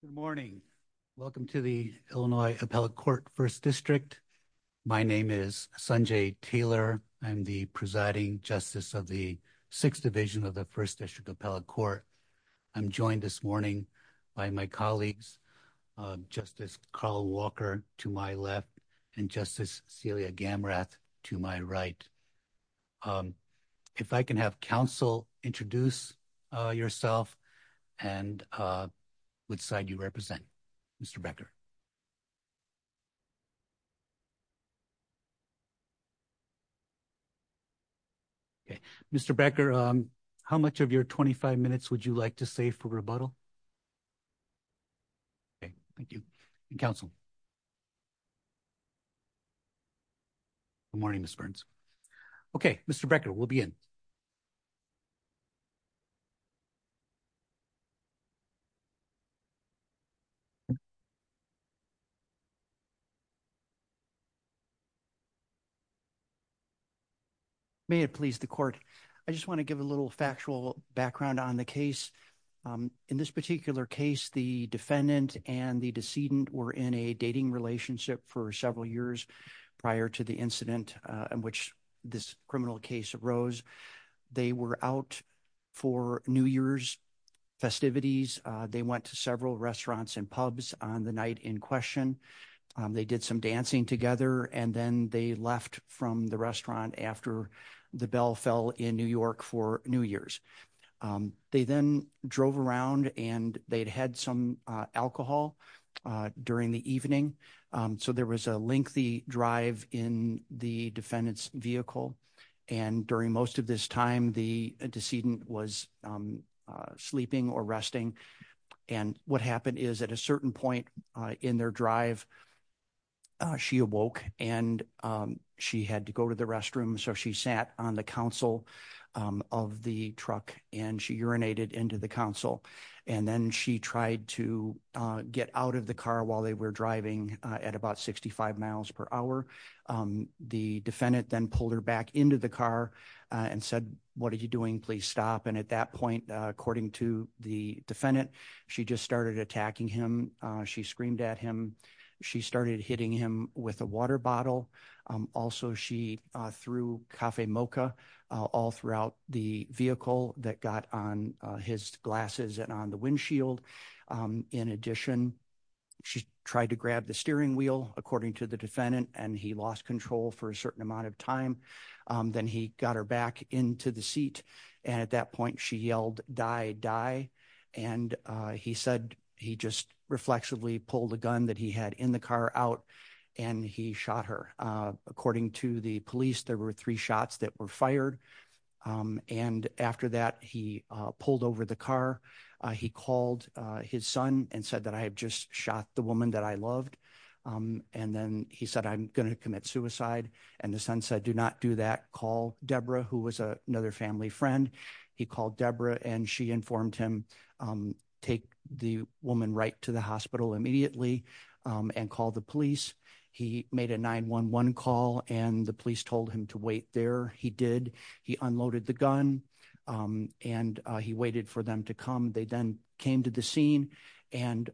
Good morning. Welcome to the Illinois Appellate Court First District. My name is Sanjay Taylor. I'm the presiding justice of the Sixth Division of the First District Appellate Court. I'm joined this morning by my colleagues Justice Carla Walker to my left and Justice Celia Gamrath to my right. If I can have counsel introduce yourself and which side you represent, Mr. Becker. Okay, Mr. Becker, how much of your 25 minutes would you like to save for rebuttal? Okay, thank you. And counsel. Good morning, Ms. Burns. Okay, Mr. Becker, we'll begin. May it please the court. I just want to give a little factual background on the case. In this particular case, the defendant and the decedent were in a dating relationship for several years prior to the incident in which this criminal case arose. They were out for New Year's festivities. They went to several restaurants and pubs on the night in question. They did some dancing together and then they left from the restaurant after the bell fell in New York for New Year's. They then drove around and they'd had some alcohol during the evening. So there was a lengthy drive in the defendant's vehicle. And during most of this time, the decedent was sleeping or resting. And what happened is at a certain point in their drive, she awoke and she had to go to the restroom. So she sat on the console of the truck and she urinated into the console. And then she tried to get out of the car while they were driving at about 65 miles per hour. The defendant then pulled her back into the car and said, what are you doing? Please stop. And at that point, according to the defendant, she just started attacking him. She screamed at him. She started hitting him with a water bottle. Also, she threw coffee mocha all throughout the vehicle that got on his glasses and on the windshield. In addition, she tried to grab the steering wheel, according to the defendant, and he lost control for a certain amount of time. Then he got her back into the seat. And at that point, she yelled, die, die. And he said he just reflexively pulled a gun that he had in the car out and he shot her. According to the police, there were three shots that were fired. And after that, he pulled over the car. He called his son and said that I had just shot the woman that I loved. And then he said, I'm going to commit suicide. And the son said, do not do that. Call Deborah, who was another family friend. He called Deborah and she informed him, take the woman right to the hospital immediately and call the police. He made a 911 call and the police told him to wait there. He did. He unloaded the gun and he waited for them to come. They then came to the scene and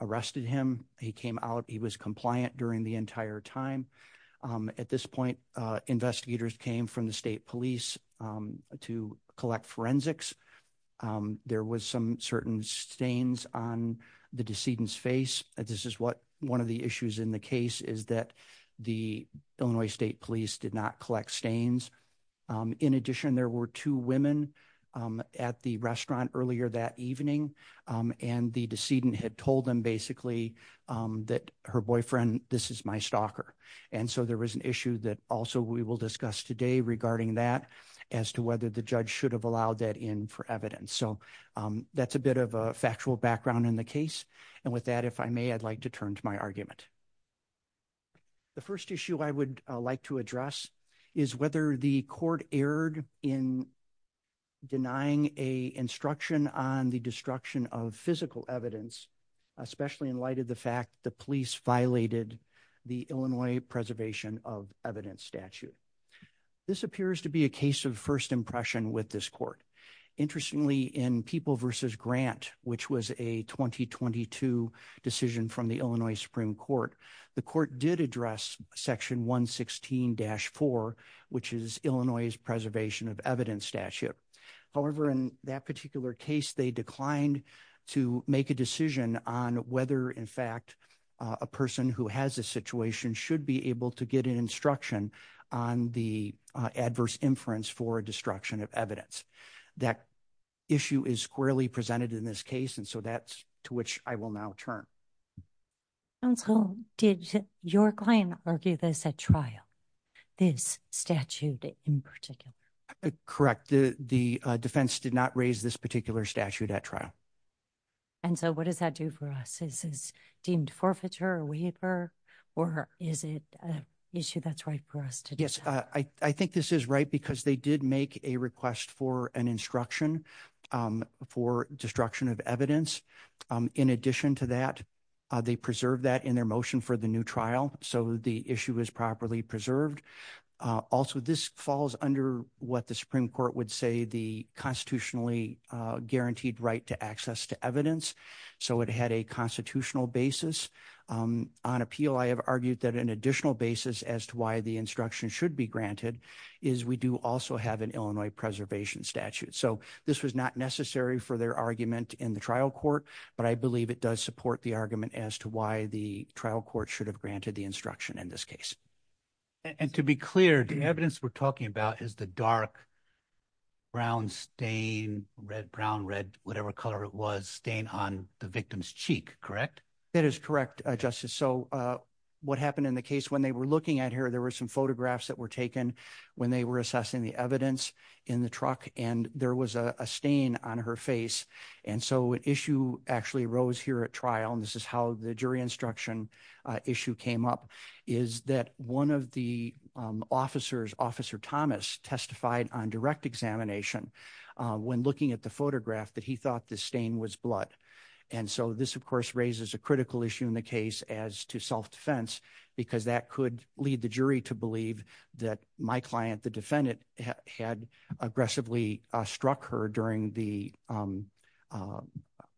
arrested him. He came out. He was compliant during the entire time. At this point, investigators came from the state police to collect forensics. There was some certain stains on the decedent's face. This is what one of the issues in the case is that the Illinois State Police did not collect stains. In addition, there were two women at the restaurant earlier that evening, and the decedent had told them basically that her boyfriend, this is my stalker. And so there was an issue that also we will discuss today regarding that as to whether the judge should have allowed that in for evidence. So that's a bit of a factual background in the case. And with that, if I may, I'd like to turn to my argument. The first issue I would like to address is whether the court erred in denying a instruction on the destruction of physical evidence, especially in light of the fact the police violated the Illinois Preservation of Evidence statute. This appears to be a case of first impression with this court. Interestingly, in People v. Grant, which was a 2022 decision from the Illinois Supreme Court, the court did address section 116-4, which is Illinois's Preservation of Evidence statute. However, in that particular case, they declined to make a decision on whether, in fact, a person who has a situation should be able to get an instruction on the adverse inference for destruction of evidence. That issue is squarely presented in this case, and so that's to which I will now turn. Counsel, did your client argue this at trial, this statute in particular? Correct. The defense did not raise this particular statute at trial. And so what does that do for us? Is this deemed forfeiture or waiver, or is it an issue that's right for us to discuss? Yes, I think this is right because they did make a request for an instruction for destruction of evidence. In addition to that, they preserved that in their for the new trial, so the issue is properly preserved. Also, this falls under what the Supreme Court would say the constitutionally guaranteed right to access to evidence, so it had a constitutional basis. On appeal, I have argued that an additional basis as to why the instruction should be granted is we do also have an Illinois Preservation statute. So this was not necessary for their argument in the trial court, but I believe it does support the argument as to why the trial court should have granted the instruction in this case. And to be clear, the evidence we're talking about is the dark brown stain, red, brown, red, whatever color it was, stain on the victim's cheek, correct? That is correct, Justice. So what happened in the case when they were looking at her, there were some photographs that were taken when they were assessing the evidence in the truck, and there was a stain on her face, and so an issue actually arose here at trial, and this is how the jury instruction issue came up, is that one of the officers, Officer Thomas, testified on direct examination when looking at the photograph that he thought the stain was blood, and so this, of course, raises a critical issue in the case as to self-defense, because that could lead the jury to believe that my client, the defendant, had aggressively struck her during the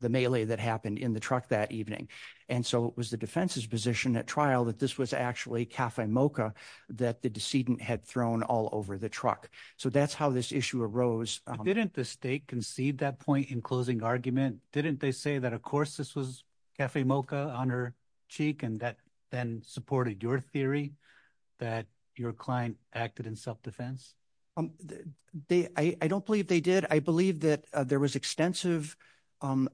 melee that happened in the truck that evening, and so it was the defense's position at trial that this was actually cafe mocha that the decedent had thrown all over the truck. So that's how this issue arose. Didn't the state concede that point in closing argument? Didn't they say that, of course, this was cafe mocha on her cheek, and that then supported your theory that your client acted in self-defense? I don't believe they did. I believe that there was extensive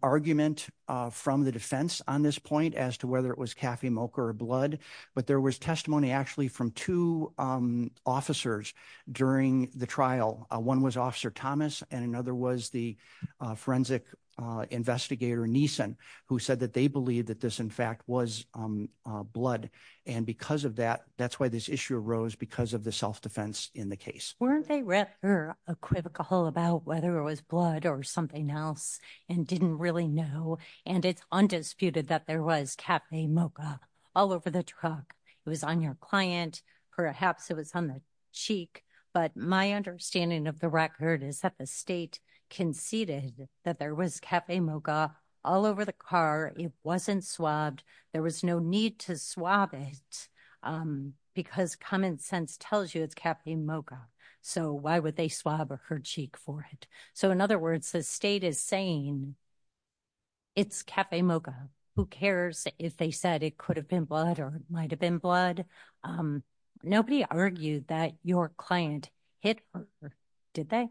argument from the defense on this point as to whether it was cafe mocha or blood, but there was testimony actually from two officers during the trial. One was Officer Thomas, and another was the forensic investigator, Neeson, who said that they believed that this, in fact, was blood, and because of that, that's why this issue arose, because of the self-defense in the case. Weren't they rather equivocal about whether it was blood or something else and didn't really know, and it's undisputed that there was cafe mocha all over the truck? It was on your client. Perhaps it was on the cheek, but my understanding of the record is that the state conceded that there was cafe mocha all over the car. It wasn't swabbed. There was no need to swab it because common sense tells you it's cafe mocha, so why would they swab her cheek for it? So, in other words, the state is saying it's cafe mocha. Who cares if they said it could have been blood or it might have been blood? Nobody argued that your client hit her, did they?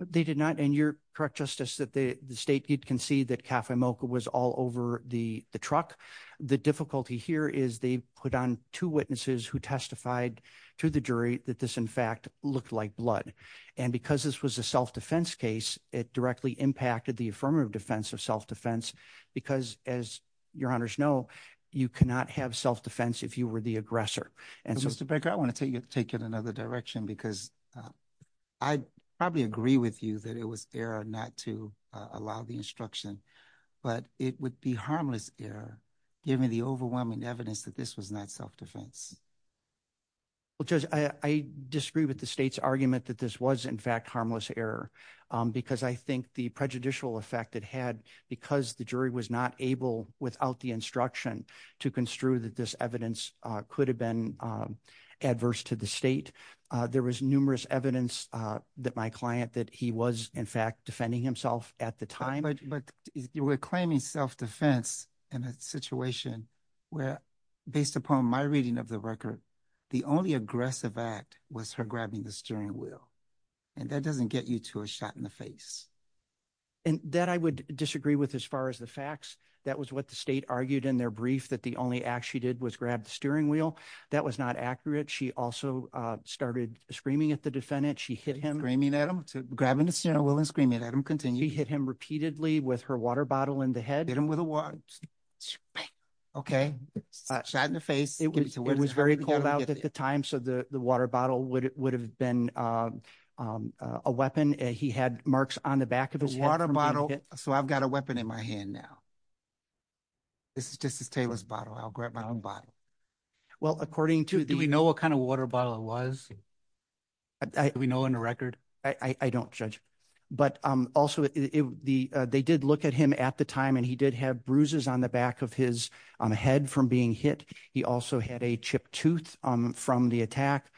They did not, and you're correct, Justice, that the state conceded that cafe mocha was all over the truck. The difficulty here is they put on two witnesses who testified to the jury that this, in fact, looked like blood, and because this was a self-defense case, it directly impacted the affirmative defense of self-defense because, as your honors know, you cannot have self-defense if you were the aggressor. Mr. Baker, I want to take it another direction because I probably agree with you that it was error not to allow the instruction, but it would be harmless error given the overwhelming evidence that this was not self-defense. Well, Judge, I disagree with the state's argument that this was, in fact, harmless error because I think the prejudicial effect it had because the jury was not able, without the instruction, to construe that this evidence could have been adverse to the state. There was numerous evidence that my client that he was, in fact, defending himself at the time. But you were claiming self-defense in a situation where, based upon my reading of the record, the only aggressive act was her grabbing the steering wheel, and that doesn't get you to a shot in the face. And that I would disagree with as far as the facts. That was what the state argued in their brief, that the only act she did was grab the steering wheel. That was not accurate. She also started screaming at the defendant. She hit him. Screaming at him? Grabbing the steering wheel and screaming at him. Continue. She hit him repeatedly with her water bottle in the head. Hit him with a water bottle. Okay. Shot in the face. It was very cold out at the time, so the water bottle would have been a weapon. He had marks on the back of his head. So I've got a weapon in my hand now. This is Taylor's bottle. I'll grab my own bottle. Well, according to the- Do we know what kind of water bottle it was? Do we know in the record? I don't, Judge. But also, they did look at him at the time, and he did have bruises on the back of his head from being hit. He also had a chipped tooth from the attack.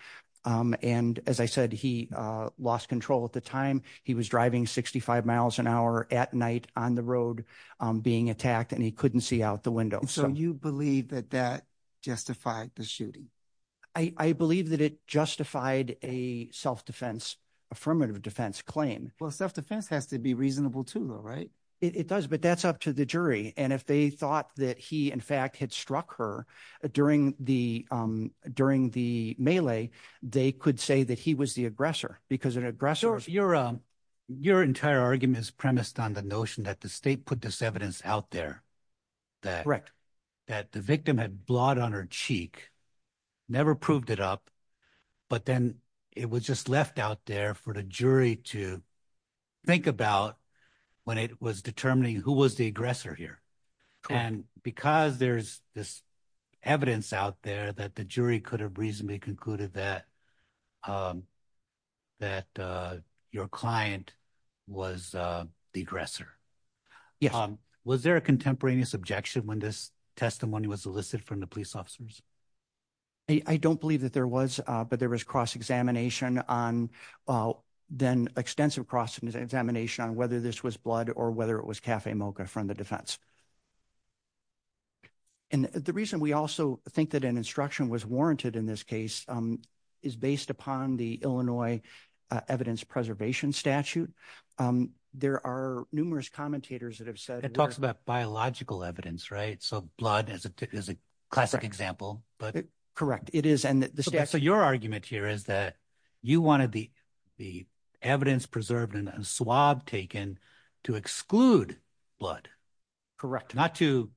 And as I said, he lost control at the time. He was driving 65 miles an hour at night on the road, being attacked, and he couldn't see out the window. So you believe that that justified the shooting? I believe that it justified a self-defense, affirmative defense claim. Well, self-defense has to be reasonable, too, though, right? It does, but that's up to the jury. And if they thought that he, in fact, had struck her during the melee, they could say that he was the aggressor, because an aggressor- So your entire argument is premised on the notion that the state put this evidence out there, that the victim had blood on her cheek, never proved it up, but then it was just left out there for the jury to think about when it was determining who was the aggressor here. And because there's this evidence out there that the jury could have reasonably concluded that that your client was the aggressor. Yes. Was there a contemporaneous objection when this testimony was elicited from the police officers? I don't believe that there was, but there was cross-examination on, then extensive cross-examination on whether this was blood or whether it was cafe mocha from the defense. And the reason we also think that an instruction was warranted in this case is based upon the Illinois Evidence Preservation Statute. There are numerous commentators that have said- It talks about biological evidence, right? So blood is a classic example, but- Correct. It is, and the statute- So your argument here is that you wanted the evidence preserved in a swab taken to exclude blood. Correct. Not to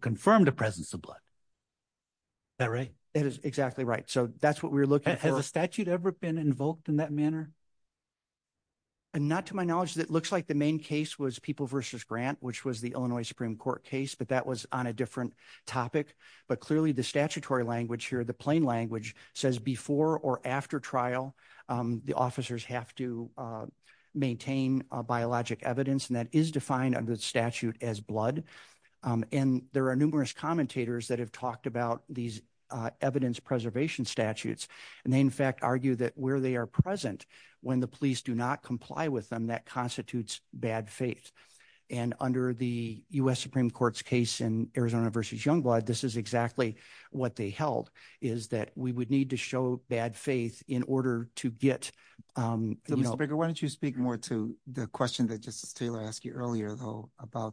confirm the presence of blood. Is that right? It is exactly right. So that's what we're looking for. Has the statute ever been invoked in that manner? Not to my knowledge. It looks like the main case was People v. Grant, which was the Illinois Supreme Court case, but that was on a different topic. But clearly the statutory language here, the plain language says before or after trial, the officers have to maintain biologic evidence, and that is defined under the statute as blood. And there are numerous commentators that have talked about these evidence preservation statutes. And they, in fact, argue that where they are present when the police do not comply with them, that constitutes bad faith. And under the U.S. Supreme Court's case in Arizona v. Youngblood, this is exactly what they held, is that we would need to show bad faith in order to get- The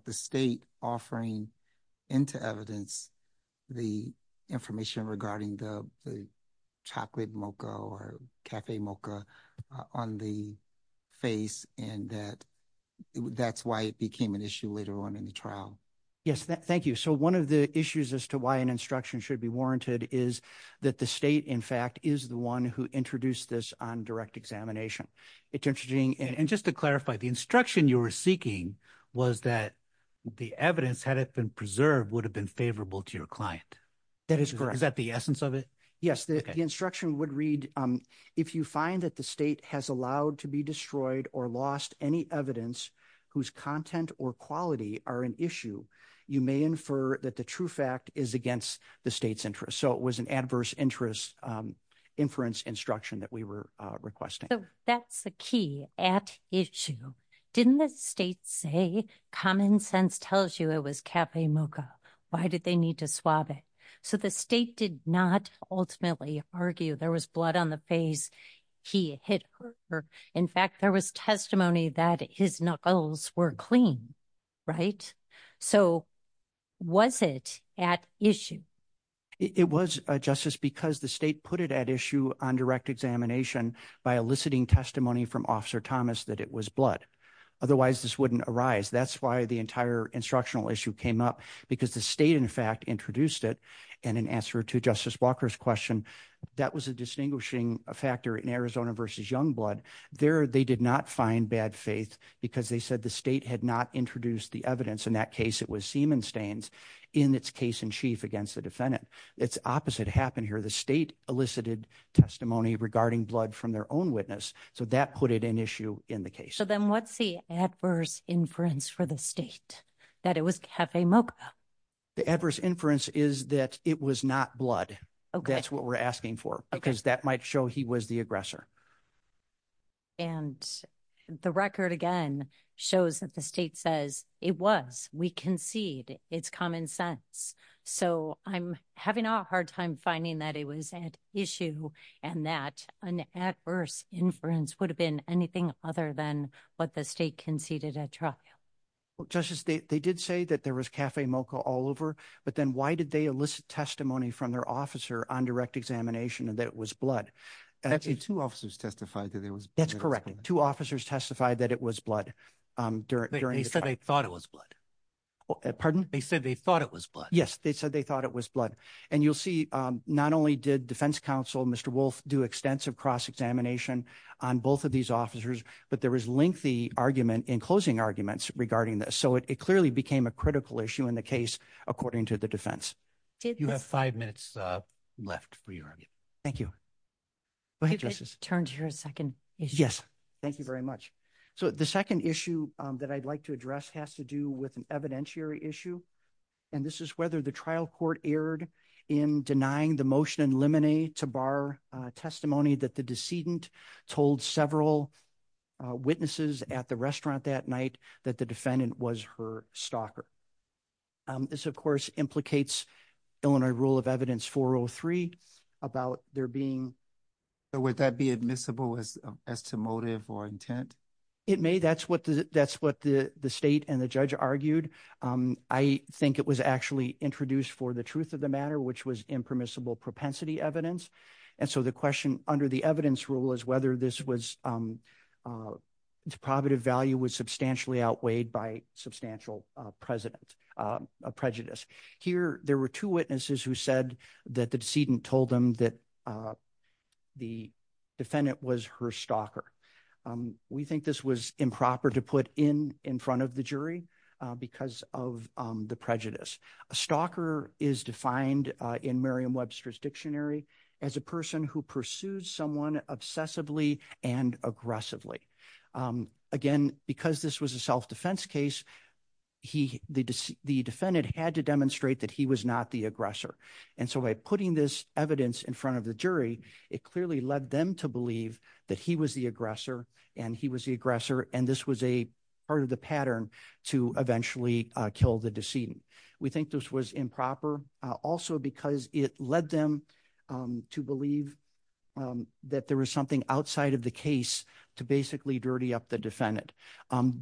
state offering into evidence the information regarding the chocolate mocha or cafe mocha on the face, and that's why it became an issue later on in the trial. Yes, thank you. So one of the issues as to why an instruction should be warranted is that the state, in fact, is the one who introduced this on direct examination. It's interesting. And just to clarify, the instruction you were seeking was that the evidence, had it been preserved, would have been favorable to your client. That is correct. Is that the essence of it? Yes. The instruction would read, if you find that the state has allowed to be destroyed or lost any evidence whose content or quality are an issue, you may infer that the true fact is against the state's interest. So it was an adverse inference instruction that we were requesting. That's the key, at issue. Didn't the state say, common sense tells you it was cafe mocha. Why did they need to swab it? So the state did not ultimately argue there was blood on the face. He hit her. In fact, there was testimony that his knuckles were clean, right? So was it at issue? It was, Justice, because the state put it at issue on direct examination by eliciting testimony from Officer Thomas that it was blood. Otherwise, this wouldn't arise. That's why the entire instructional issue came up, because the state, in fact, introduced it. And in answer to Justice Walker's question, that was a distinguishing factor in Arizona versus Youngblood. There, they did not find bad faith because they said the state had not introduced the evidence. In that case, it was semen stains. In its case in chief against the defendant, it's opposite happened here. The state elicited testimony regarding blood from their own witness. So that put it in issue in the case. So then what's the adverse inference for the state that it was cafe mocha? The adverse inference is that it was not blood. That's what we're asking for, because that might show he was aggressor. And the record again shows that the state says it was. We concede it's common sense. So I'm having a hard time finding that it was at issue and that an adverse inference would have been anything other than what the state conceded at trial. Well, Justice, they did say that there was cafe mocha all over. But then why did they elicit testimony from their officer on direct examination that it was blood? Two officers testified that it was. That's correct. Two officers testified that it was blood during. They said they thought it was blood. Pardon? They said they thought it was blood. Yes, they said they thought it was blood. And you'll see not only did defense counsel, Mr. Wolf, do extensive cross examination on both of these officers, but there was lengthy argument in closing arguments regarding this. So it clearly became a critical issue in the case, according to the defense. You have five minutes left for your argument. Thank you. Turn to your second. Yes. Thank you very much. So the second issue that I'd like to address has to do with an evidentiary issue, and this is whether the trial court erred in denying the motion and eliminate to bar testimony that the decedent told several witnesses at the restaurant that night that the defendant was her stalker. This, of course, implicates Illinois Rule of Evidence 403 about there being. Would that be admissible as a motive or intent? It may. That's what that's what the state and the judge argued. I think it was actually introduced for the truth of the matter, which was impermissible propensity evidence. And so the question under the evidence rule is whether this was deprivative value was substantially outweighed by substantial president prejudice. Here there were two witnesses who said that the decedent told them that the defendant was her stalker. We think this was improper to put in in front of the jury because of the prejudice. A stalker is defined in Merriam-Webster's dictionary as a person who pursues someone obsessively and aggressively. Again, because this was a self-defense case, he the the defendant had to demonstrate that he was not the aggressor. And so by putting this evidence in front of the jury, it clearly led them to believe that he was the aggressor and he was the aggressor. And this was a part of the pattern to eventually kill the decedent. We think this was improper also because it led them to believe that there was something outside of the case to basically dirty up the defendant.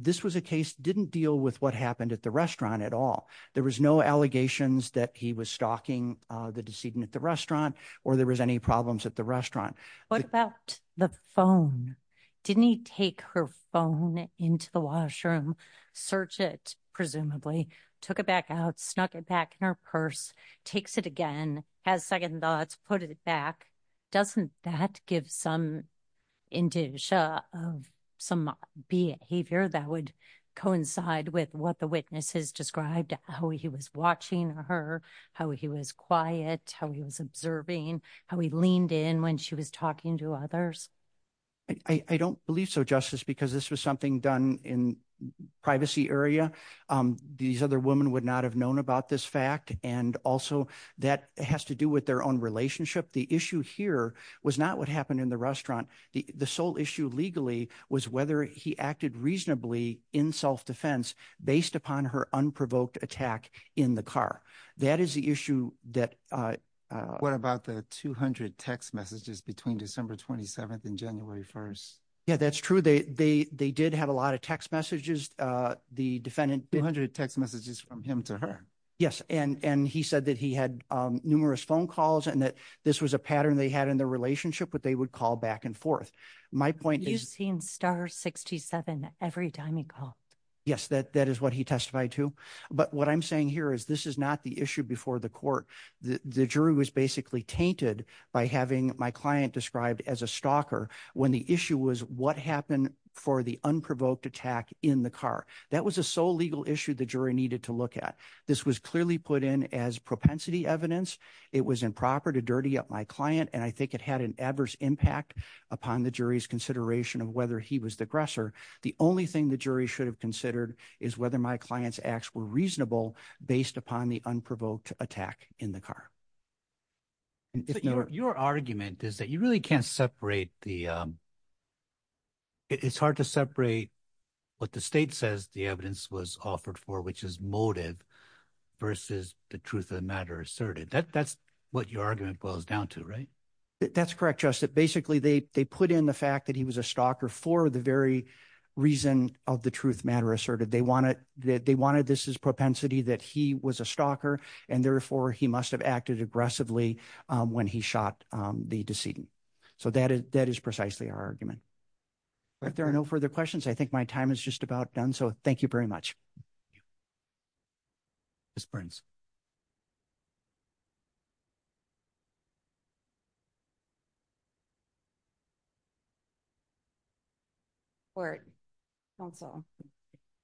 This was a case didn't deal with what happened at the restaurant at all. There was no allegations that he was stalking the decedent at the restaurant or there was any problems at the restaurant. What about the phone? Didn't he take her phone into the washroom, search it, presumably, took it back out, snuck it back in her purse, takes it again, has second thoughts, put it back. Doesn't that give some indigestion of some behavior that would coincide with what the witnesses described how he was watching her, how he was quiet, how he was observing, how he leaned in when she was talking to others? I don't believe so, Justice, because this was something done in privacy area. These other women would not have known about this fact. And also that has to do with their own relationship. The issue here was not what happened in the restaurant. The sole issue legally was whether he acted reasonably in self-defense based upon her unprovoked attack in the car. That is the issue that... What about the 200 text messages between December 27th and January 1st? Yeah, that's true. They did have a lot of text messages. The defendant... 200 text messages from him to her. Yes. And he said that he had numerous phone calls and that this was a pattern they had in their relationship, but they would call back and forth. My point is... You've seen star 67 every time he called. Yes, that is what he testified to. But what I'm saying here is this is not the issue before the jury was basically tainted by having my client described as a stalker when the issue was what happened for the unprovoked attack in the car. That was a sole legal issue the jury needed to look at. This was clearly put in as propensity evidence. It was improper to dirty up my client, and I think it had an adverse impact upon the jury's consideration of whether he was the aggressor. The only thing the jury should have considered is whether my client's acts were reasonable based upon the unprovoked attack in the car. Your argument is that you really can't separate the... It's hard to separate what the state says the evidence was offered for, which is motive versus the truth of the matter asserted. That's what your argument boils down to, right? That's correct, Justice. Basically, they put in the fact that he was a stalker for the very reason of the truth matter asserted. They wanted this as propensity that he was a stalker, and therefore, he must have acted aggressively when he shot the decedent. So, that is precisely our argument. If there are no further questions, I think my time is just about done. So, thank you very much. Counsel,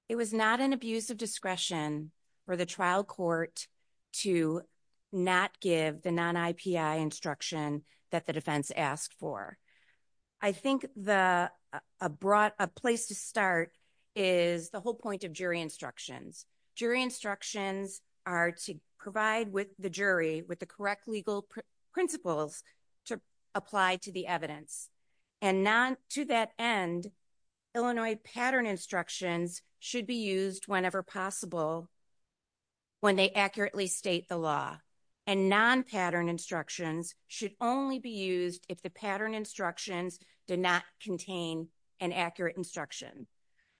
it was not an abuse of discretion for the trial court to not give the non-IPI instruction that the defense asked for. I think a place to start is the whole point of jury instructions. Jury instructions are to provide the jury with the correct legal principles to apply to the evidence. And to that end, Illinois pattern instructions should be used whenever possible when they accurately state the law. And non-pattern instructions should only be used if the pattern instructions do not contain an accurate instruction.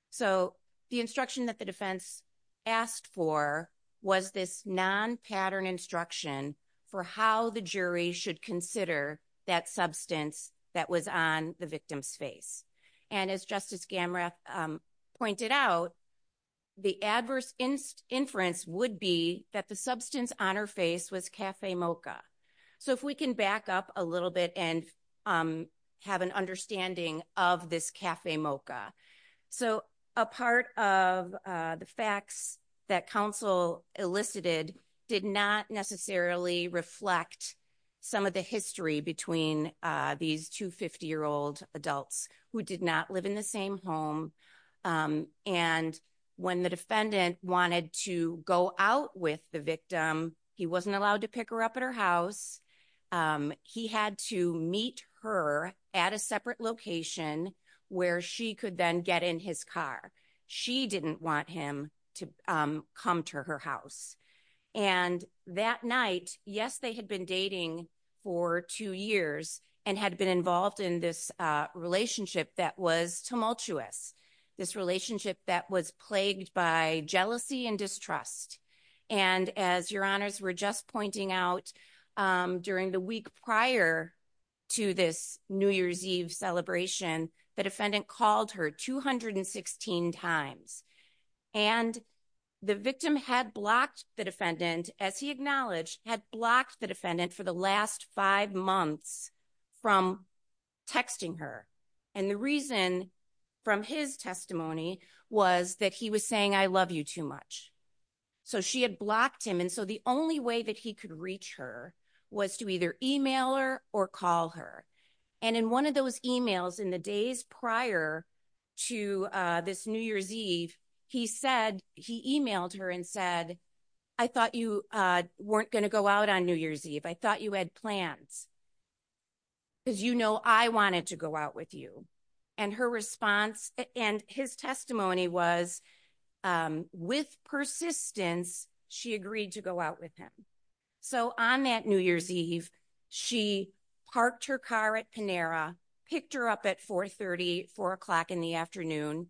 So, the instruction that the defense asked for was this non-pattern instruction for how the jury should consider that substance that was on the victim's face. And as Justice Gamreth pointed out, the adverse inference would be that the substance on her face was cafe mocha. So, if we can back up a little bit and have an understanding of this cafe mocha. So, a part of the facts that counsel elicited did not necessarily reflect some of the history between these two 50-year-old adults who did not live in the same home. And when the defendant wanted to go out with the victim, he wasn't allowed to pick her up at her house. He had to meet her at a separate location where she could then get in his car. She didn't want him to come to her house. And that night, yes, they had been dating for two years and had been involved in this relationship that was tumultuous. This relationship that was plagued by jealousy and distrust. And as your honors were just pointing out, during the week prior to this New Year's Eve celebration, the defendant called her 216 times. And the victim had blocked the defendant, as he acknowledged, had blocked the defendant for the last five months from texting her. And the reason from his testimony was that he was saying, I love you too much. So, she had blocked him. And so, the only way that he could reach her was to either email her or call her. And in one of those emails in the days prior to this New Year's Eve, he said, he emailed her and said, I thought you weren't going to go out on New Year's Eve. I thought you had plans. As you know, I wanted to go out with you. And her response and his testimony was, with persistence, she agreed to go out with him. So, on that New Year's Eve, she parked her car at Panera, picked her up at 4.30, 4 o'clock in the afternoon,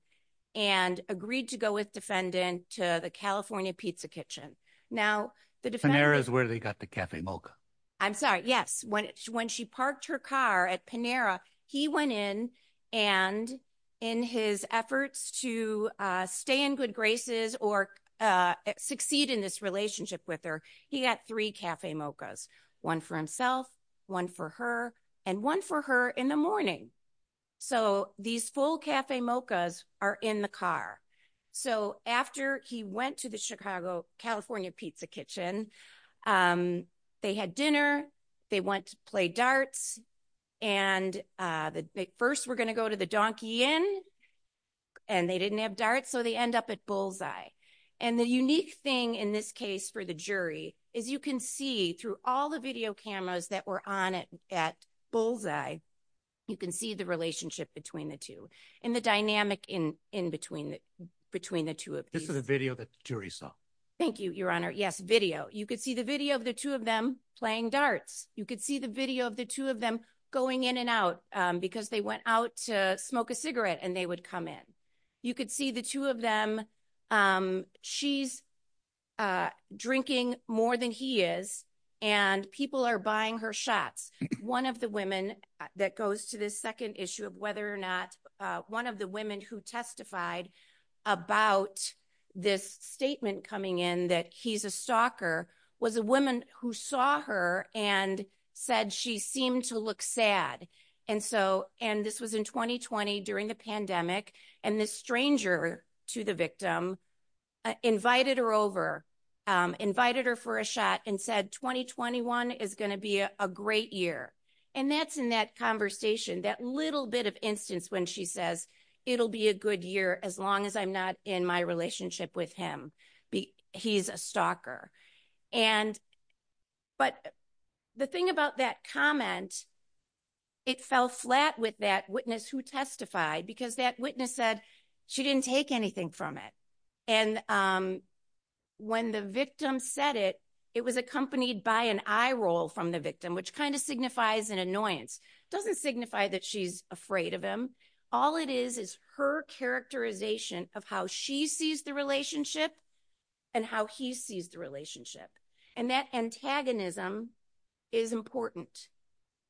and agreed to go with defendant to the California Pizza Kitchen. Now, the defendant- Panera is where they got the cafe mocha. I'm sorry. Yes. When she parked her car at Panera, he went in, and in his efforts to stay in good graces or succeed in this relationship with her, he got three cafe mochas, one for himself, one for her, and one for her in the morning. So, these full cafe mochas are in the car. So, after he went to the Chicago California Pizza Kitchen, they had dinner, they went to play darts, and they first were going to go to the Donkey Inn, and they didn't have darts, so they end up at Bullseye. And the unique thing in this case for the jury is you can see through all the video cameras that were on at Bullseye, you can see relationship between the two, and the dynamic in between the two of these. This is a video that the jury saw. Thank you, Your Honor. Yes, video. You could see the video of the two of them playing darts. You could see the video of the two of them going in and out because they went out to smoke a cigarette, and they would come in. You could see the two of them, she's drinking more than he is, and people are buying her shots. One of the women that goes to this second issue of whether or not one of the women who testified about this statement coming in that he's a stalker was a woman who saw her and said she seemed to look sad. And this was in 2020 during the pandemic, and this stranger to the victim invited her over, invited her for a shot and said, 2021 is going to be a great year. And that's in that conversation, that little bit of instance when she says, it'll be a good year as long as I'm not in my relationship with him. He's a stalker. But the thing about that comment, it fell flat with that witness who testified because that witness said she didn't take anything from it. And when the victim said it, it was accompanied by an eye roll from the victim, which kind of signifies an annoyance. It doesn't signify that she's afraid of him. All it is is her characterization of how she sees the relationship and how he sees the relationship. And that antagonism is important.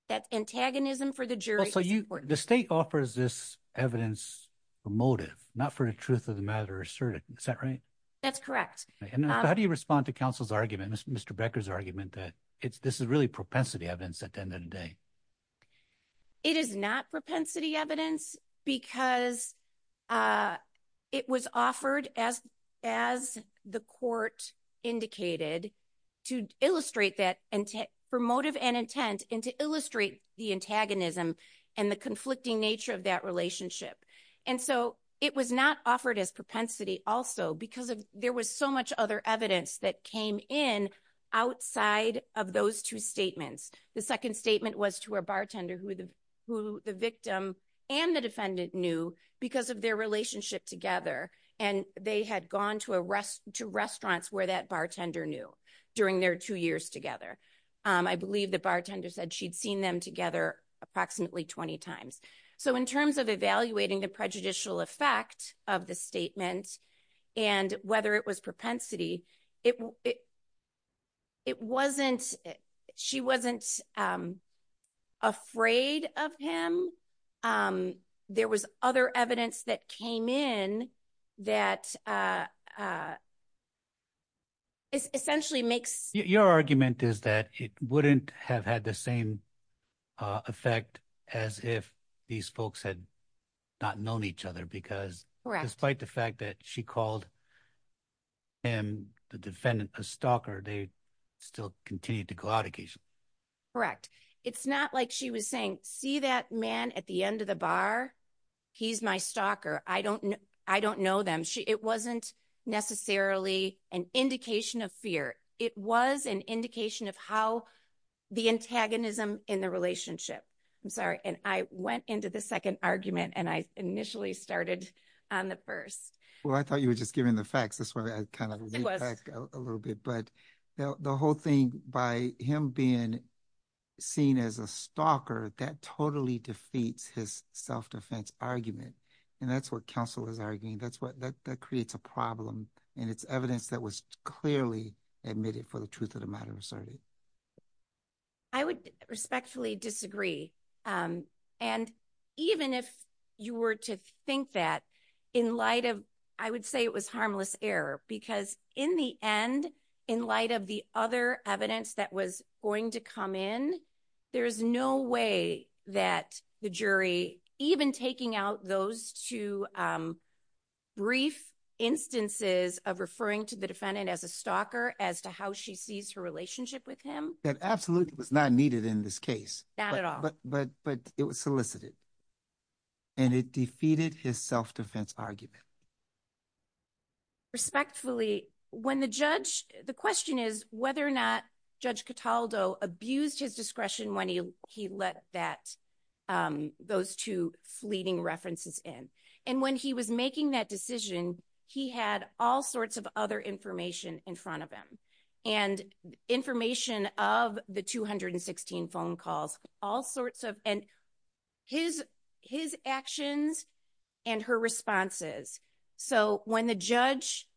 That antagonism for the state offers this evidence motive, not for the truth of the matter asserted. Is that right? That's correct. And how do you respond to counsel's argument? Mr. Becker's argument that it's, this is really propensity evidence at the end of the day. It is not propensity evidence because it was offered as, as the court indicated to illustrate that and to motive and intent and to illustrate the antagonism and the conflicting nature of that relationship. And so it was not offered as propensity also because of, there was so much other evidence that came in outside of those two statements. The second statement was to a bartender who the, who the victim and the defendant knew because of their relationship together. And they had gone to restaurants where that bartender knew during their two years together. I believe the bartender said she'd seen them together approximately 20 times. So in terms of evaluating the prejudicial effect of the statement and whether it was propensity, it wasn't, she wasn't afraid of him. Um, there was other evidence that came in that, uh, uh, essentially makes your argument is that it wouldn't have had the same, uh, effect as if these folks had not known each other, because despite the fact that she called him the defendant, a stalker, they still continued to go out occasionally. Correct. It's not like she was saying, see that man at the end of the bar, he's my stalker. I don't, I don't know them. She, it wasn't necessarily an indication of fear. It was an indication of how the antagonism in the relationship, I'm sorry. And I went into the second argument and I initially started on the first. Well, I thought you were just giving the facts. That's why I kind of went back a little bit, but the whole thing by him being seen as a stalker that totally defeats his self-defense argument. And that's what counsel is arguing. That's what, that, that creates a problem. And it's evidence that was clearly admitted for the truth of the matter asserted. I would respectfully disagree. Um, and even if you were to think that in light of, I would say it was harmless error because in the end, in light of the other evidence that was going to come in, there's no way that the jury, even taking out those two, um, brief instances of referring to the defendant as a stalker, as to how she sees her relationship with him. That absolutely was not needed in this case. Not at all. But, but, but it was solicited and it defeated his self-defense argument. Respectfully when the judge, the question is whether or not judge Cataldo abused his discretion when he, he let that, um, those two fleeting references in. And when he was making that decision, he had all sorts of other information in front of him and information of the 216 phone calls, all sorts of, and his, his actions and her responses. So when the judge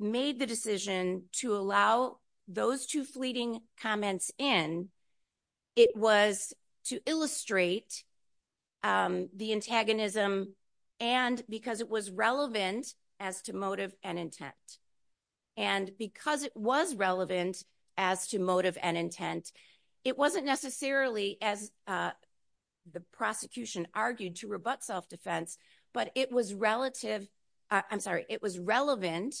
made the decision to allow those two fleeting comments in, it was to illustrate, um, the antagonism and because it was relevant as to motive and intent. And because it was relevant as to motive and intent, it wasn't necessarily as, uh, the prosecution argued to rebut self-defense, but it was relative, uh, I'm sorry, it was relevant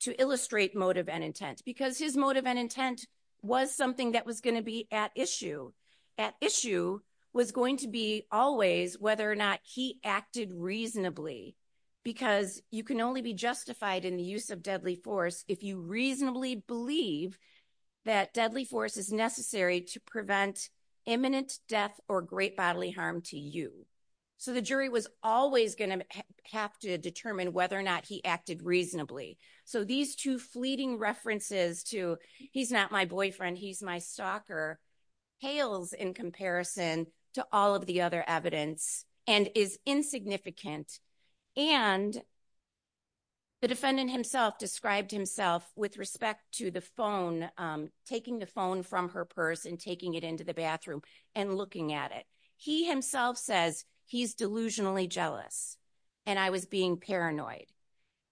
to illustrate motive and intent because his motive and intent was something that was going to be at issue. At issue was going to be always whether or not he acted reasonably, because you can only be justified in the use of deadly force. If you reasonably believe that deadly force is necessary to prevent imminent death or great bodily harm to you. So the jury was always going to have to determine whether or not he acted reasonably. So these two fleeting references to he's not my boyfriend, he's my stalker hails in comparison to all of the other evidence and is insignificant. And the defendant himself described himself with respect to the phone, um, taking the phone from her purse and taking it into the bathroom and looking at it. He himself says he's delusionally jealous and I was being paranoid.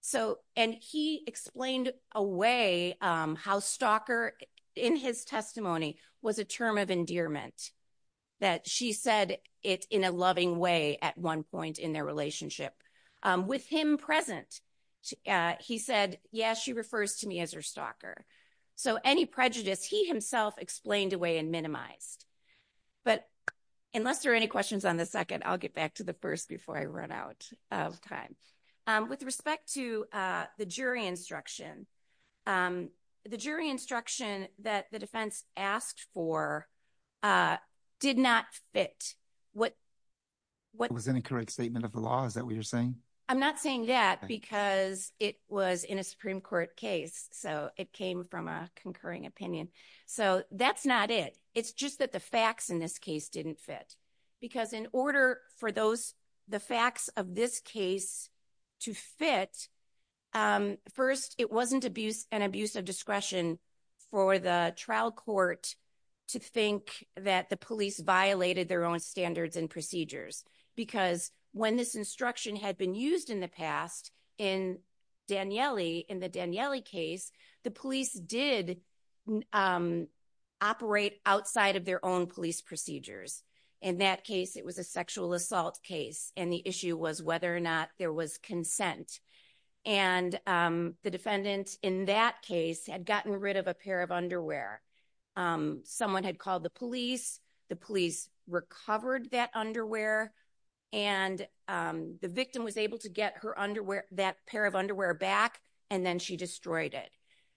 So, and he explained a way, um, how stalker in his testimony was a term of endearment that she said it in a loving way at one point in their relationship with him present. Uh, he said, yeah, she refers to me as her stalker. So any prejudice he himself explained away and minimized, but unless there are any questions on the second, I'll get back to the first before I run out of time. Um, with respect to, uh, the jury instruction, um, the jury instruction that the defense asked for, uh, did not fit what, what was an incorrect statement of the law. Is that what you're saying? I'm not saying that because it was in a Supreme court case. So it came from a concurring opinion. So that's not it. It's just that the facts in this case didn't fit because in order for those, the facts of this case to fit, um, first it wasn't abuse and abuse of discretion for the trial court to think that the police violated their own standards and procedures. Because when this instruction had been used in the past in Danielle, in the Danielle case, the police did, um, operate outside of their own police procedures. In that case, it was a sexual assault case. And the issue was whether or not there was consent and, um, the defendant in that case had gotten rid of a pair of underwear. Um, someone had called the police, the police recovered that underwear and, um, the victim was able to get her underwear, that pair of underwear back, and then she destroyed it.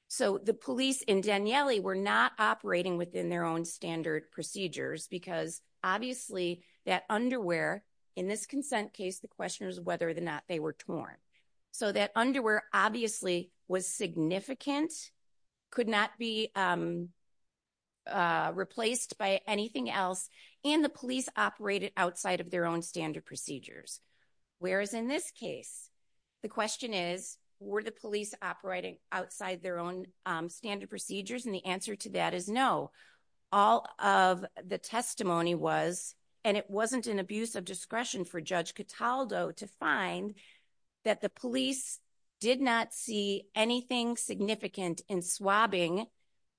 So the police in Danielle were not operating within their own standard procedures because obviously that underwear, in this consent case, the question was whether or not they were torn. So that underwear obviously was significant, could not be, um, uh, replaced by anything else. And the police operated outside of their own standard procedures. Whereas in this case, the question is, were the police operating outside their own, um, standard procedures? And the answer to that is no. All of the testimony was, and it wasn't an abuse of discretion for Judge Cataldo to find, that the police did not see anything significant in swabbing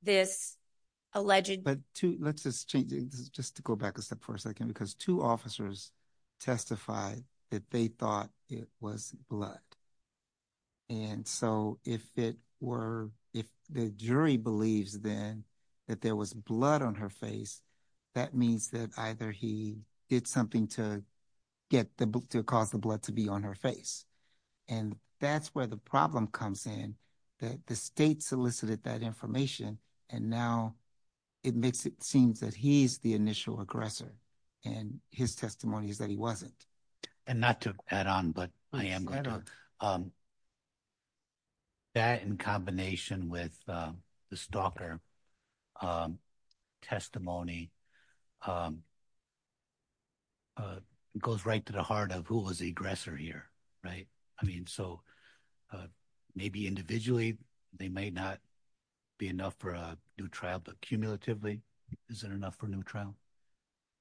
this alleged... But to, let's just change, just to go back a step for a second, because two officers testified that they thought it was blood. And so if it were, if the jury believes then that there was blood on her face, that means that either he did something to get the, to cause the blood to be on her face. And that's where the problem comes in, that the state solicited that information and now it makes it seems that he's the initial aggressor and his testimony is that he wasn't. And not to add on, but I am going to, um, that in combination with, um, the stalker, um, testimony, um, goes right to the heart of who was the aggressor here, right? I mean, so, uh, maybe individually they may not be enough for a new trial, but cumulatively, is it enough for a new trial?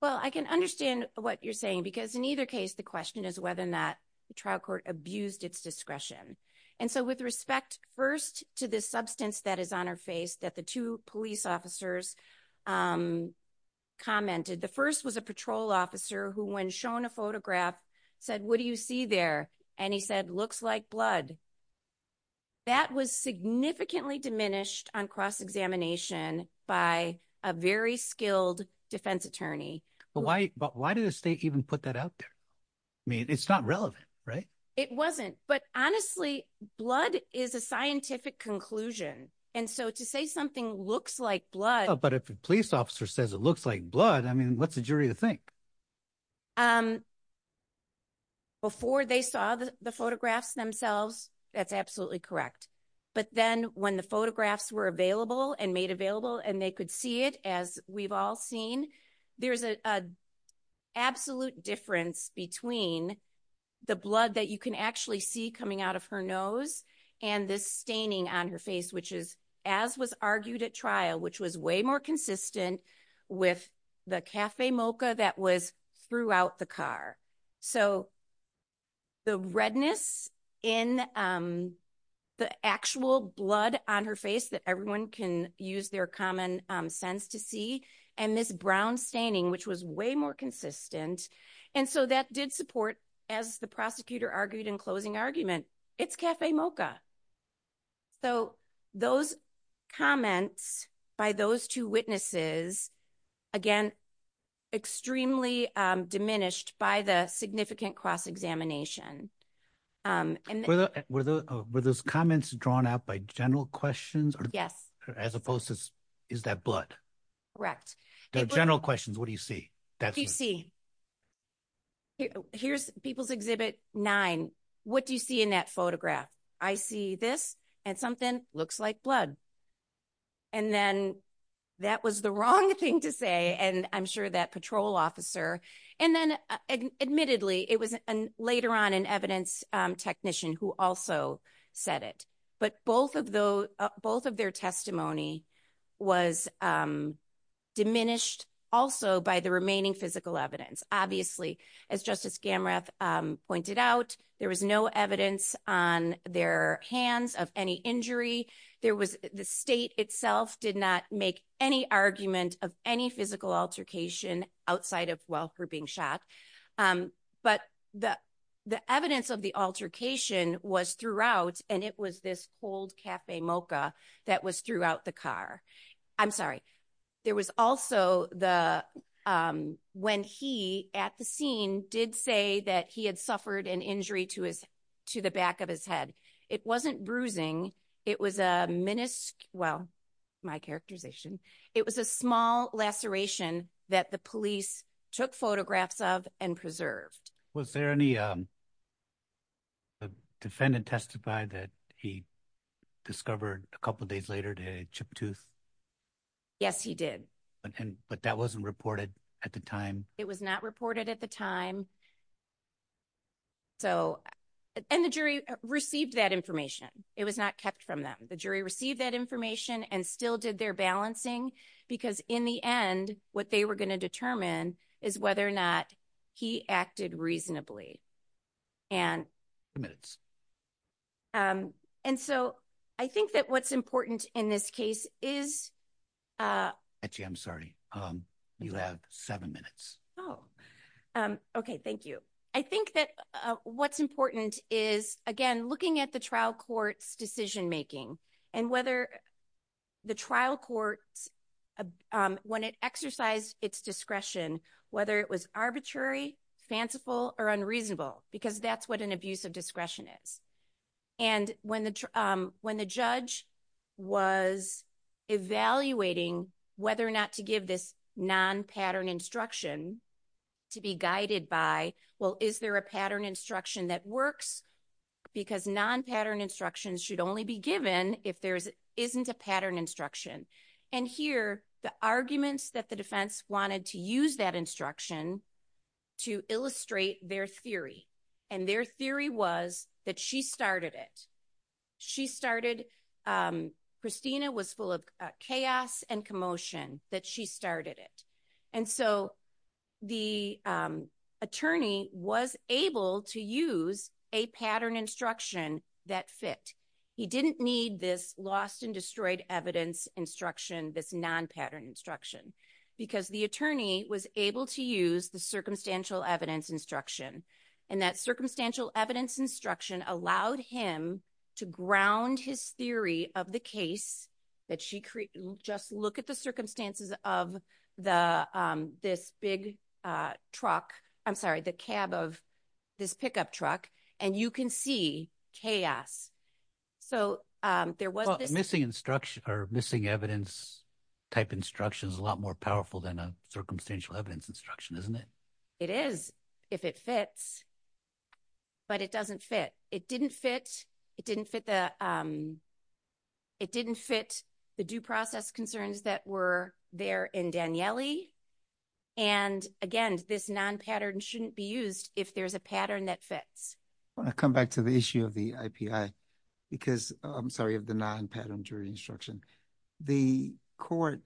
Well, I can understand what you're saying, because in either case, the question is whether or not the trial court abused its discretion. And so with respect first to the substance that is on her face that the two police officers, um, commented, the first was a patrol officer who when shown a photograph said, what do you see there? And he said, looks like blood. That was significantly diminished on cross-examination by a very skilled defense attorney. But why, but why did the state even put that out there? I mean, it's not relevant, right? It wasn't, but honestly, blood is a scientific conclusion. And so to say something looks like blood, but if a police officer says it looks like blood, I mean, what's the jury to think? Um, before they saw the photographs themselves, that's absolutely correct. But then when the photographs were available and made available and they could see it as we've all seen, there's a absolute difference between the blood that you can actually see coming out of her nose and this staining on her face, which is as was argued at trial, which was way more consistent with the cafe mocha that was throughout the car. So the redness in, um, the actual blood on her face that everyone can use their common sense to see, and this brown staining, which was way more consistent. And so that did support as the prosecutor argued in closing argument, it's cafe mocha. So those comments by those two witnesses, again, extremely, um, diminished by the significant cross-examination, um, and were those comments drawn out by general questions or as opposed to, is that blood? Correct. General questions. What do you see that you see here's people's exhibit nine. What do you see in that photograph? I see this and something looks like blood. And then that was the wrong thing to say. And I'm sure that patrol officer, and then admittedly it was later on in evidence, um, technician who also said it, but both of those, both of their testimony was, um, diminished also by the remaining physical evidence, obviously, as justice Gamreth, um, pointed out, there was no evidence on their hands of any injury. There was the state itself did not make any argument of any physical altercation outside of welfare being shot. Um, but the, the evidence of the altercation was throughout, and it was this cold cafe mocha that was throughout the car. I'm sorry. There was also the, um, when he at the scene did say that he had suffered an injury to his, to the back of his head, it wasn't bruising. It was a minus, well, my characterization, it was a small laceration that the police took photographs of and preserved. Was there any, um, a defendant testified that he discovered a couple of days later to a chip tooth. Yes, he did. But that wasn't reported at the time. It was not reported at the time. So, and the jury received that information. It was not kept from them. The jury received that information and still did their balancing because in the end, what they were going to is whether or not he acted reasonably and minutes. Um, and so I think that what's important in this case is, uh, actually, I'm sorry. Um, you have seven minutes. Oh, um, okay. Thank you. I think that, uh, what's important is again, looking at the trial courts decision-making and whether the trial courts, um, when it exercised its discretion, whether it was arbitrary, fanciful or unreasonable, because that's what an abuse of discretion is. And when the, um, when the judge was evaluating whether or not to give this non-pattern instruction to be guided by, well, is there a pattern instruction that works? Because non-pattern instructions should only be given if there isn't a pattern instruction. And here, the arguments that the defense wanted to use that instruction to illustrate their theory, and their theory was that she started it. She started, um, Christina was full of chaos and that she started it. And so the, um, attorney was able to use a pattern instruction that fit. He didn't need this lost and destroyed evidence instruction, this non-pattern instruction, because the attorney was able to use the circumstantial evidence instruction. And that circumstantial evidence instruction allowed him to ground his theory of the case that she created. Just look at the circumstances of the, um, this big, uh, truck, I'm sorry, the cab of this pickup truck, and you can see chaos. So, um, there was this- Missing instruction or missing evidence type instruction is a lot more powerful than a circumstantial evidence instruction, isn't it? It is if it fits, but it doesn't fit. It didn't fit. It didn't fit the, um, um, it didn't fit the due process concerns that were there in Daniele. And again, this non-pattern shouldn't be used if there's a pattern that fits. I want to come back to the issue of the IPI, because, I'm sorry, of the non-pattern jury instruction. The court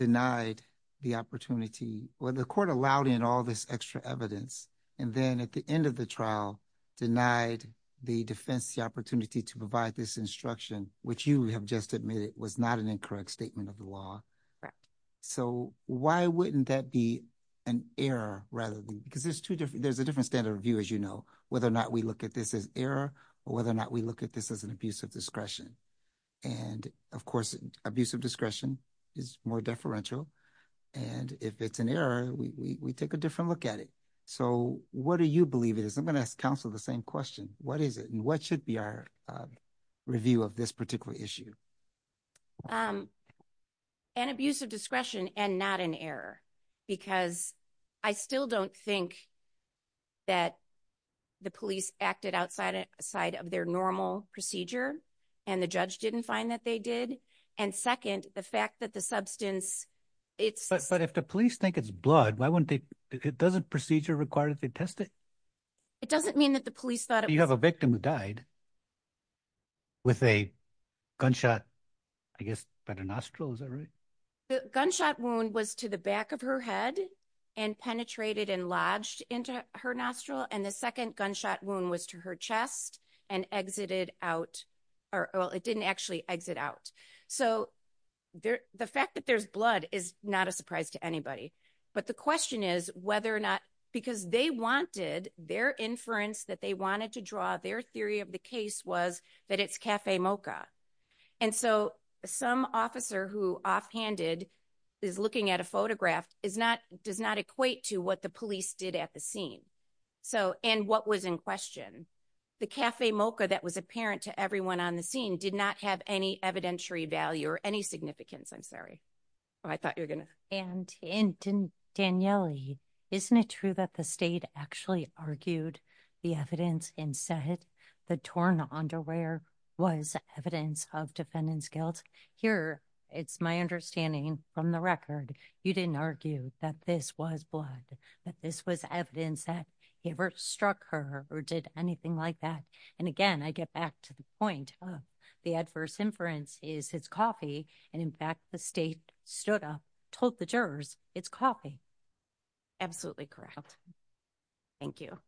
denied the opportunity, or the court allowed in all this extra evidence, and then at the end of the trial denied the defense the opportunity to provide this instruction, which you have just admitted was not an incorrect statement of the law. Correct. So, why wouldn't that be an error rather than, because there's two different, there's a different standard of view, as you know, whether or not we look at this as error, or whether or not we look at this as an abuse of discretion. And, of course, abuse of discretion is more deferential, and if it's an error, we take a different look at it. So, what do you believe it is? I'm going to ask counsel the same question. What is it, and what should be our review of this particular issue? An abuse of discretion and not an error, because I still don't think that the police acted outside of their normal procedure, and the judge didn't find that they did. And second, the fact that the substance, it's... But if the police think it's blood, why wouldn't they, doesn't procedure require that they test it? It doesn't mean that the police thought... You have a victim who died with a gunshot, I guess, at her nostril, is that right? The gunshot wound was to the back of her and it didn't actually exit out. So, the fact that there's blood is not a surprise to anybody, but the question is whether or not... Because they wanted, their inference that they wanted to draw, their theory of the case was that it's cafe mocha. And so, some officer who offhanded is looking at a photograph does not equate to what the police did at the scene, and what was in question. The cafe mocha that was apparent to everyone on the scene did not have any evidentiary value or any significance. I'm sorry. I thought you were going to... And Daniele, isn't it true that the state actually argued the evidence and said the torn underwear was evidence of defendant's guilt? Here, it's my understanding from the record, you didn't argue that this was blood, that this was evidence that he ever struck her or did anything like that. And again, I get back to the point of the adverse inference is it's coffee, and in fact, the state stood up, told the jurors it's coffee. Absolutely correct. Thank you.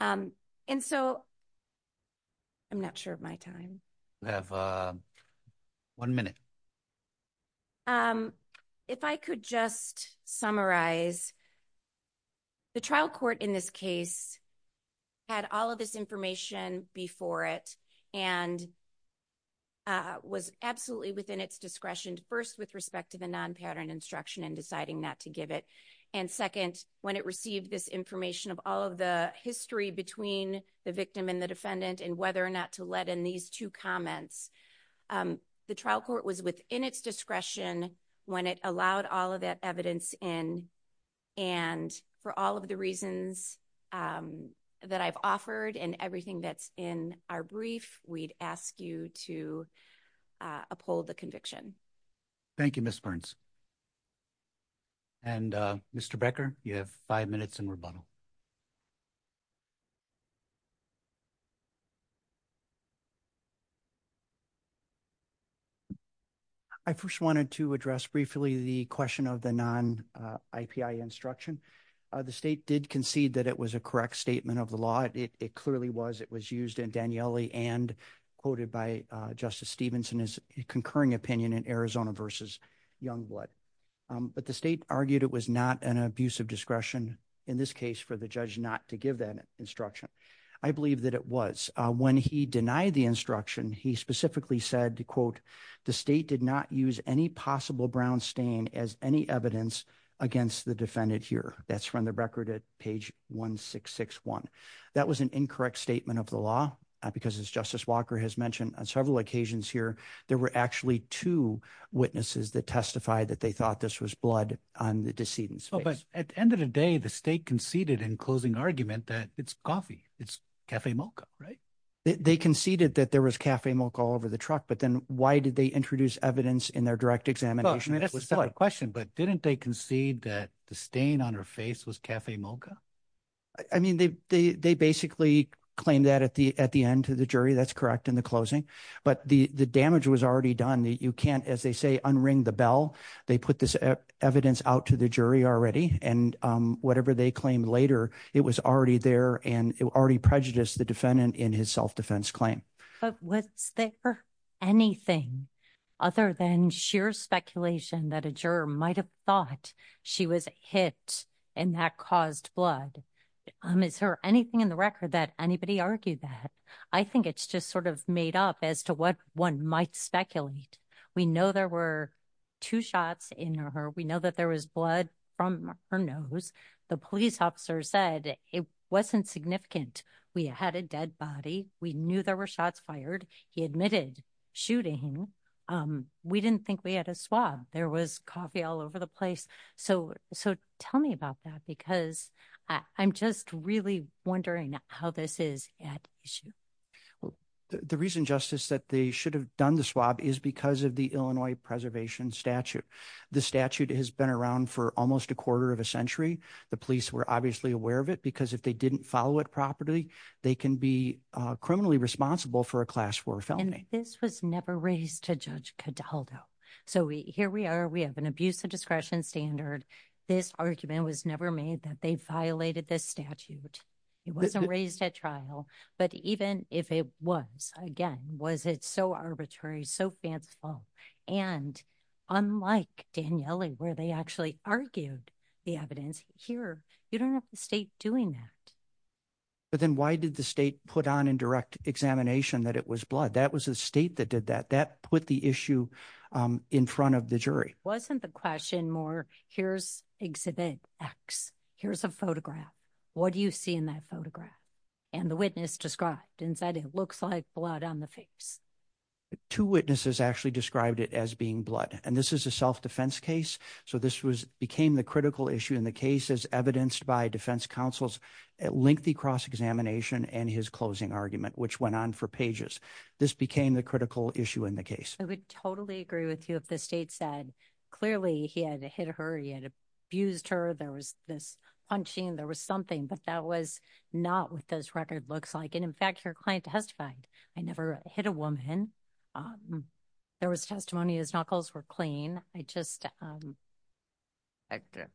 And so, I'm not sure of my time. You have one minute. If I could just summarize, the trial court in this case had all of this information before it, and was absolutely within its discretion, first, with respect to the non-pattern instruction and deciding not to give it. And second, when it received this information of all of the history between the victim and the defendant, and whether or not to let in these two comments, the trial court was within its discretion when it allowed all of that evidence in. And for all of the reasons that I've offered and everything that's in our brief, we'd ask you to uphold the conviction. Thank you, Ms. Burns. And Mr. Becker, you have five minutes in rebuttal. I first wanted to address briefly the question of the non-IPI instruction. The state did concede that it was a correct statement of the law. It clearly was. It was used in Daniele and quoted by Justice Stevenson as a concurring opinion in Arizona v. Youngblood. But the state argued it was not an abuse of discretion, in this case, for the judge not to give that instruction. I believe that it was. When he denied the instruction, he specifically said, quote, the state did not use any possible brown stain as any evidence against the defendant here. That's from the record at page 1661. That was an incorrect statement of the law, because as Justice Walker has mentioned on several occasions here, there were actually two witnesses that testified that they thought this was blood on the decedent's face. But at the end of the day, the state conceded in closing argument that it's coffee. It's all over the truck. But then why did they introduce evidence in their direct examination? And this is a question, but didn't they concede that the stain on her face was cafe mocha? I mean, they basically claim that at the end to the jury. That's correct in the closing. But the damage was already done that you can't, as they say, unring the bell. They put this evidence out to the jury already. And whatever they claim later, it was already there and it already prejudiced the defendant in his self-defense claim. But was there anything other than sheer speculation that a juror might have thought she was hit and that caused blood? Is there anything in the record that anybody argued that? I think it's just sort of made up as to what one might speculate. We know there were two shots in her. We know that there was blood from her nose. The police officer said it wasn't significant. We had a dead body. We knew there were shots fired. He admitted shooting him. We didn't think we had a swab. There was coffee all over the place. So tell me about that, because I'm just really wondering how this is at issue. The reason, Justice, that they should have done the swab is because of the Illinois Preservation Statute. The statute has been around for almost a quarter of a century. The police were obviously aware of it because if they didn't follow it properly, they can be criminally responsible for a class war felony. This was never raised to Judge Codaldo. So here we are. We have an abuse of discretion standard. This argument was never made that they violated this statute. It wasn't raised at trial. But even if it was, again, was it so arbitrary, so fanciful? And unlike Daniele, where they actually argued the evidence, here you don't have the state doing that. But then why did the state put on indirect examination that it was blood? That was the state that did that. That put the issue in front of the jury. Wasn't the question more, here's exhibit X. Here's a photograph. What do you see in that photograph? And the witness described and said, it looks like blood on the face. Two witnesses actually described it as being blood, and this is a self-defense case. So this became the critical issue in the case, as evidenced by defense counsel's lengthy cross-examination and his closing argument, which went on for pages. This became the critical issue in the case. I would totally agree with you if the state said, clearly, he had hit her, he had abused her, there was this punching, there was something, but that was not what this record looks like. And in fact, your client testified, I never hit a woman. There was testimony his knuckles were clean. I just,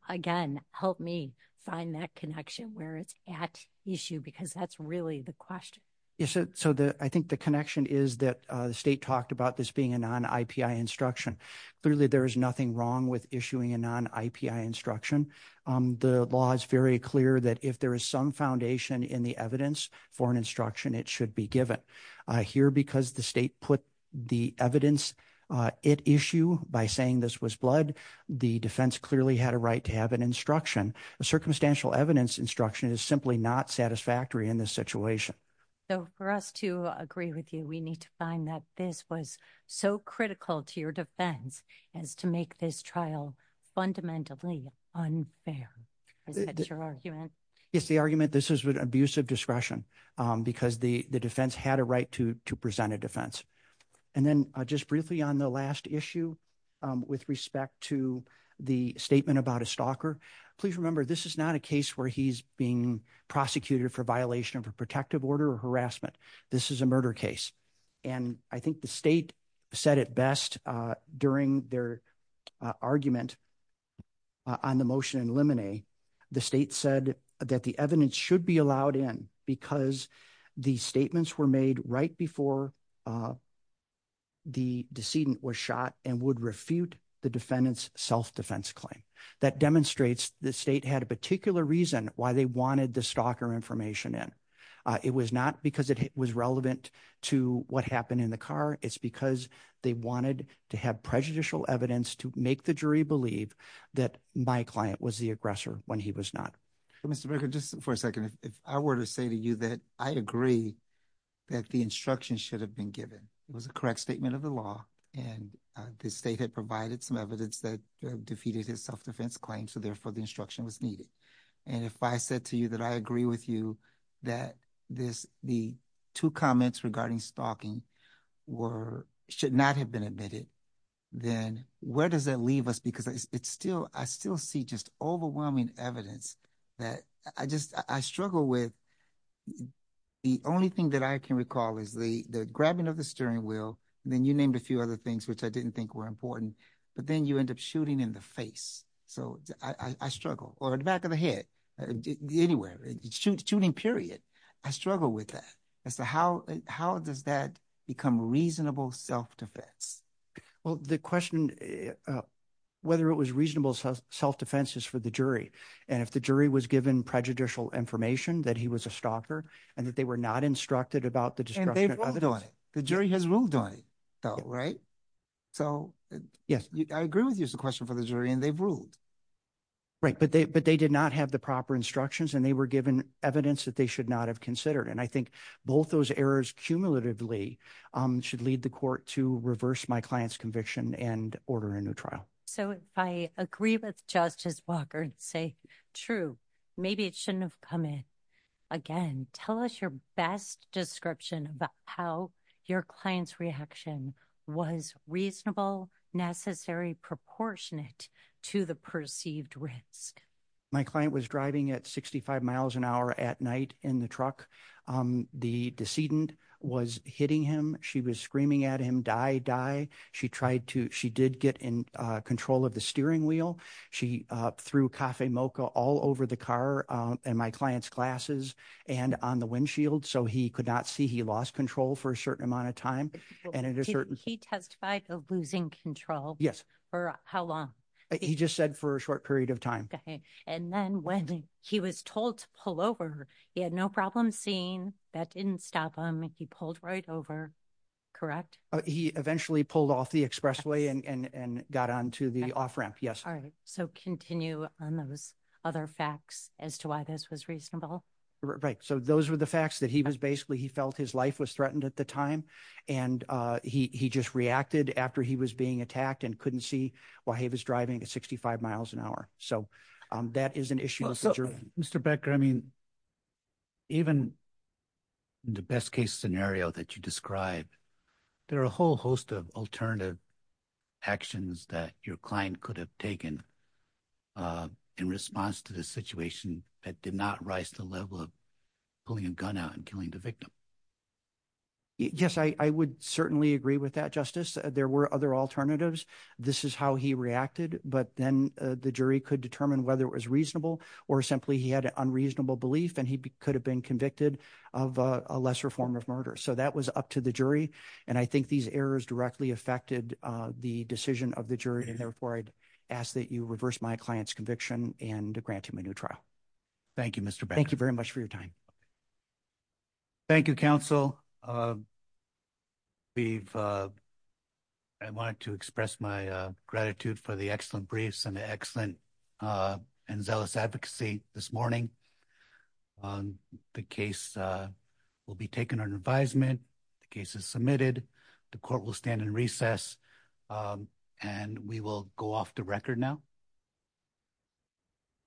again, help me find that connection where it's at issue, because that's really the question. Yes, so I think the connection is that the state talked about this being a non-IPI instruction. Clearly, there is nothing wrong with issuing a non-IPI instruction. The law is very clear that if there is some foundation in the evidence for an instruction, it should be given. Here, because the state put the evidence at issue by saying this was blood, the defense clearly had a right to have an instruction. A circumstantial evidence instruction is simply not satisfactory in this situation. So for us to agree with you, we need to find that this was so critical to your defense as to make this trial fundamentally unfair. Is that your argument? Yes, the argument, this is an abuse of discretion, because the defense had a right to present a defense. And then just briefly on the last issue, with respect to the statement about a stalker, please remember, this is not a case where he's being prosecuted for violation of a their argument on the motion in limine. The state said that the evidence should be allowed in because the statements were made right before the decedent was shot and would refute the defendant's self-defense claim. That demonstrates the state had a particular reason why they wanted the stalker information in. It was not because it was relevant to what happened in the car, it's because they wanted to have prejudicial evidence to make the jury believe that my client was the aggressor when he was not. Mr. Bricker, just for a second, if I were to say to you that I agree that the instruction should have been given, it was a correct statement of the law, and the state had provided some evidence that defeated his self-defense claim, so therefore the instruction was needed. And if I said to you that I agree with you that this, the two comments regarding stalking were, should not have been admitted, then where does that leave us? Because it's still, I still see just overwhelming evidence that I just, I struggle with. The only thing that I can recall is the grabbing of the steering wheel, then you named a few other things which I didn't think were important, but then you end up shooting in the face. So I struggle, or the back of the head, anywhere, shooting, period. I struggle with that. So how does that become reasonable self-defense? Well, the question, whether it was reasonable self-defense is for the jury, and if the jury was given prejudicial information that he was a stalker and that they were not instructed about the discussion. And they've ruled on it. The jury has ruled on it, though, right? So, yes, I agree with you is the question for the jury, and they've ruled. Right, but they did not have the proper instructions, and they were given evidence that they should not have considered. And I think both those errors cumulatively should lead the court to reverse my client's conviction and order a new trial. So if I agree with Justice Walker and say, true, maybe it shouldn't have come in, again, tell us your best description about how your client's was reasonable, necessary, proportionate to the perceived risk. My client was driving at 65 miles an hour at night in the truck. The decedent was hitting him. She was screaming at him, die, die. She did get in control of the steering wheel. She threw coffee mocha all over the car and my client's glasses and on the windshield, so he could not he lost control for a certain amount of time. He testified of losing control. Yes. For how long? He just said for a short period of time. Okay. And then when he was told to pull over, he had no problem seeing that didn't stop him. He pulled right over, correct? He eventually pulled off the expressway and got onto the off ramp. Yes. All right. So continue on those other facts as to why this was reasonable. Right. So those were the facts that he was basically, he felt his life was threatened at the time and he just reacted after he was being attacked and couldn't see why he was driving at 65 miles an hour. So that is an issue. Mr. Becker, I mean, even the best case scenario that you described, there are a whole host of alternative actions that your client could have taken in response to the situation that did not rise to the level of pulling a gun out and killing the victim. Yes, I would certainly agree with that, Justice. There were other alternatives. This is how he reacted. But then the jury could determine whether it was reasonable or simply he had an unreasonable belief and he could have been convicted of a lesser form of murder. So that was up to the jury. And I think these errors directly affected the decision of the jury. And therefore, ask that you reverse my client's conviction and grant him a new trial. Thank you, Mr. Becker. Thank you very much for your time. Thank you, counsel. I want to express my gratitude for the excellent briefs and excellent and zealous advocacy this morning. The case will be taken under advisement. The case is submitted. The court will stand in recess and we will go off the record now.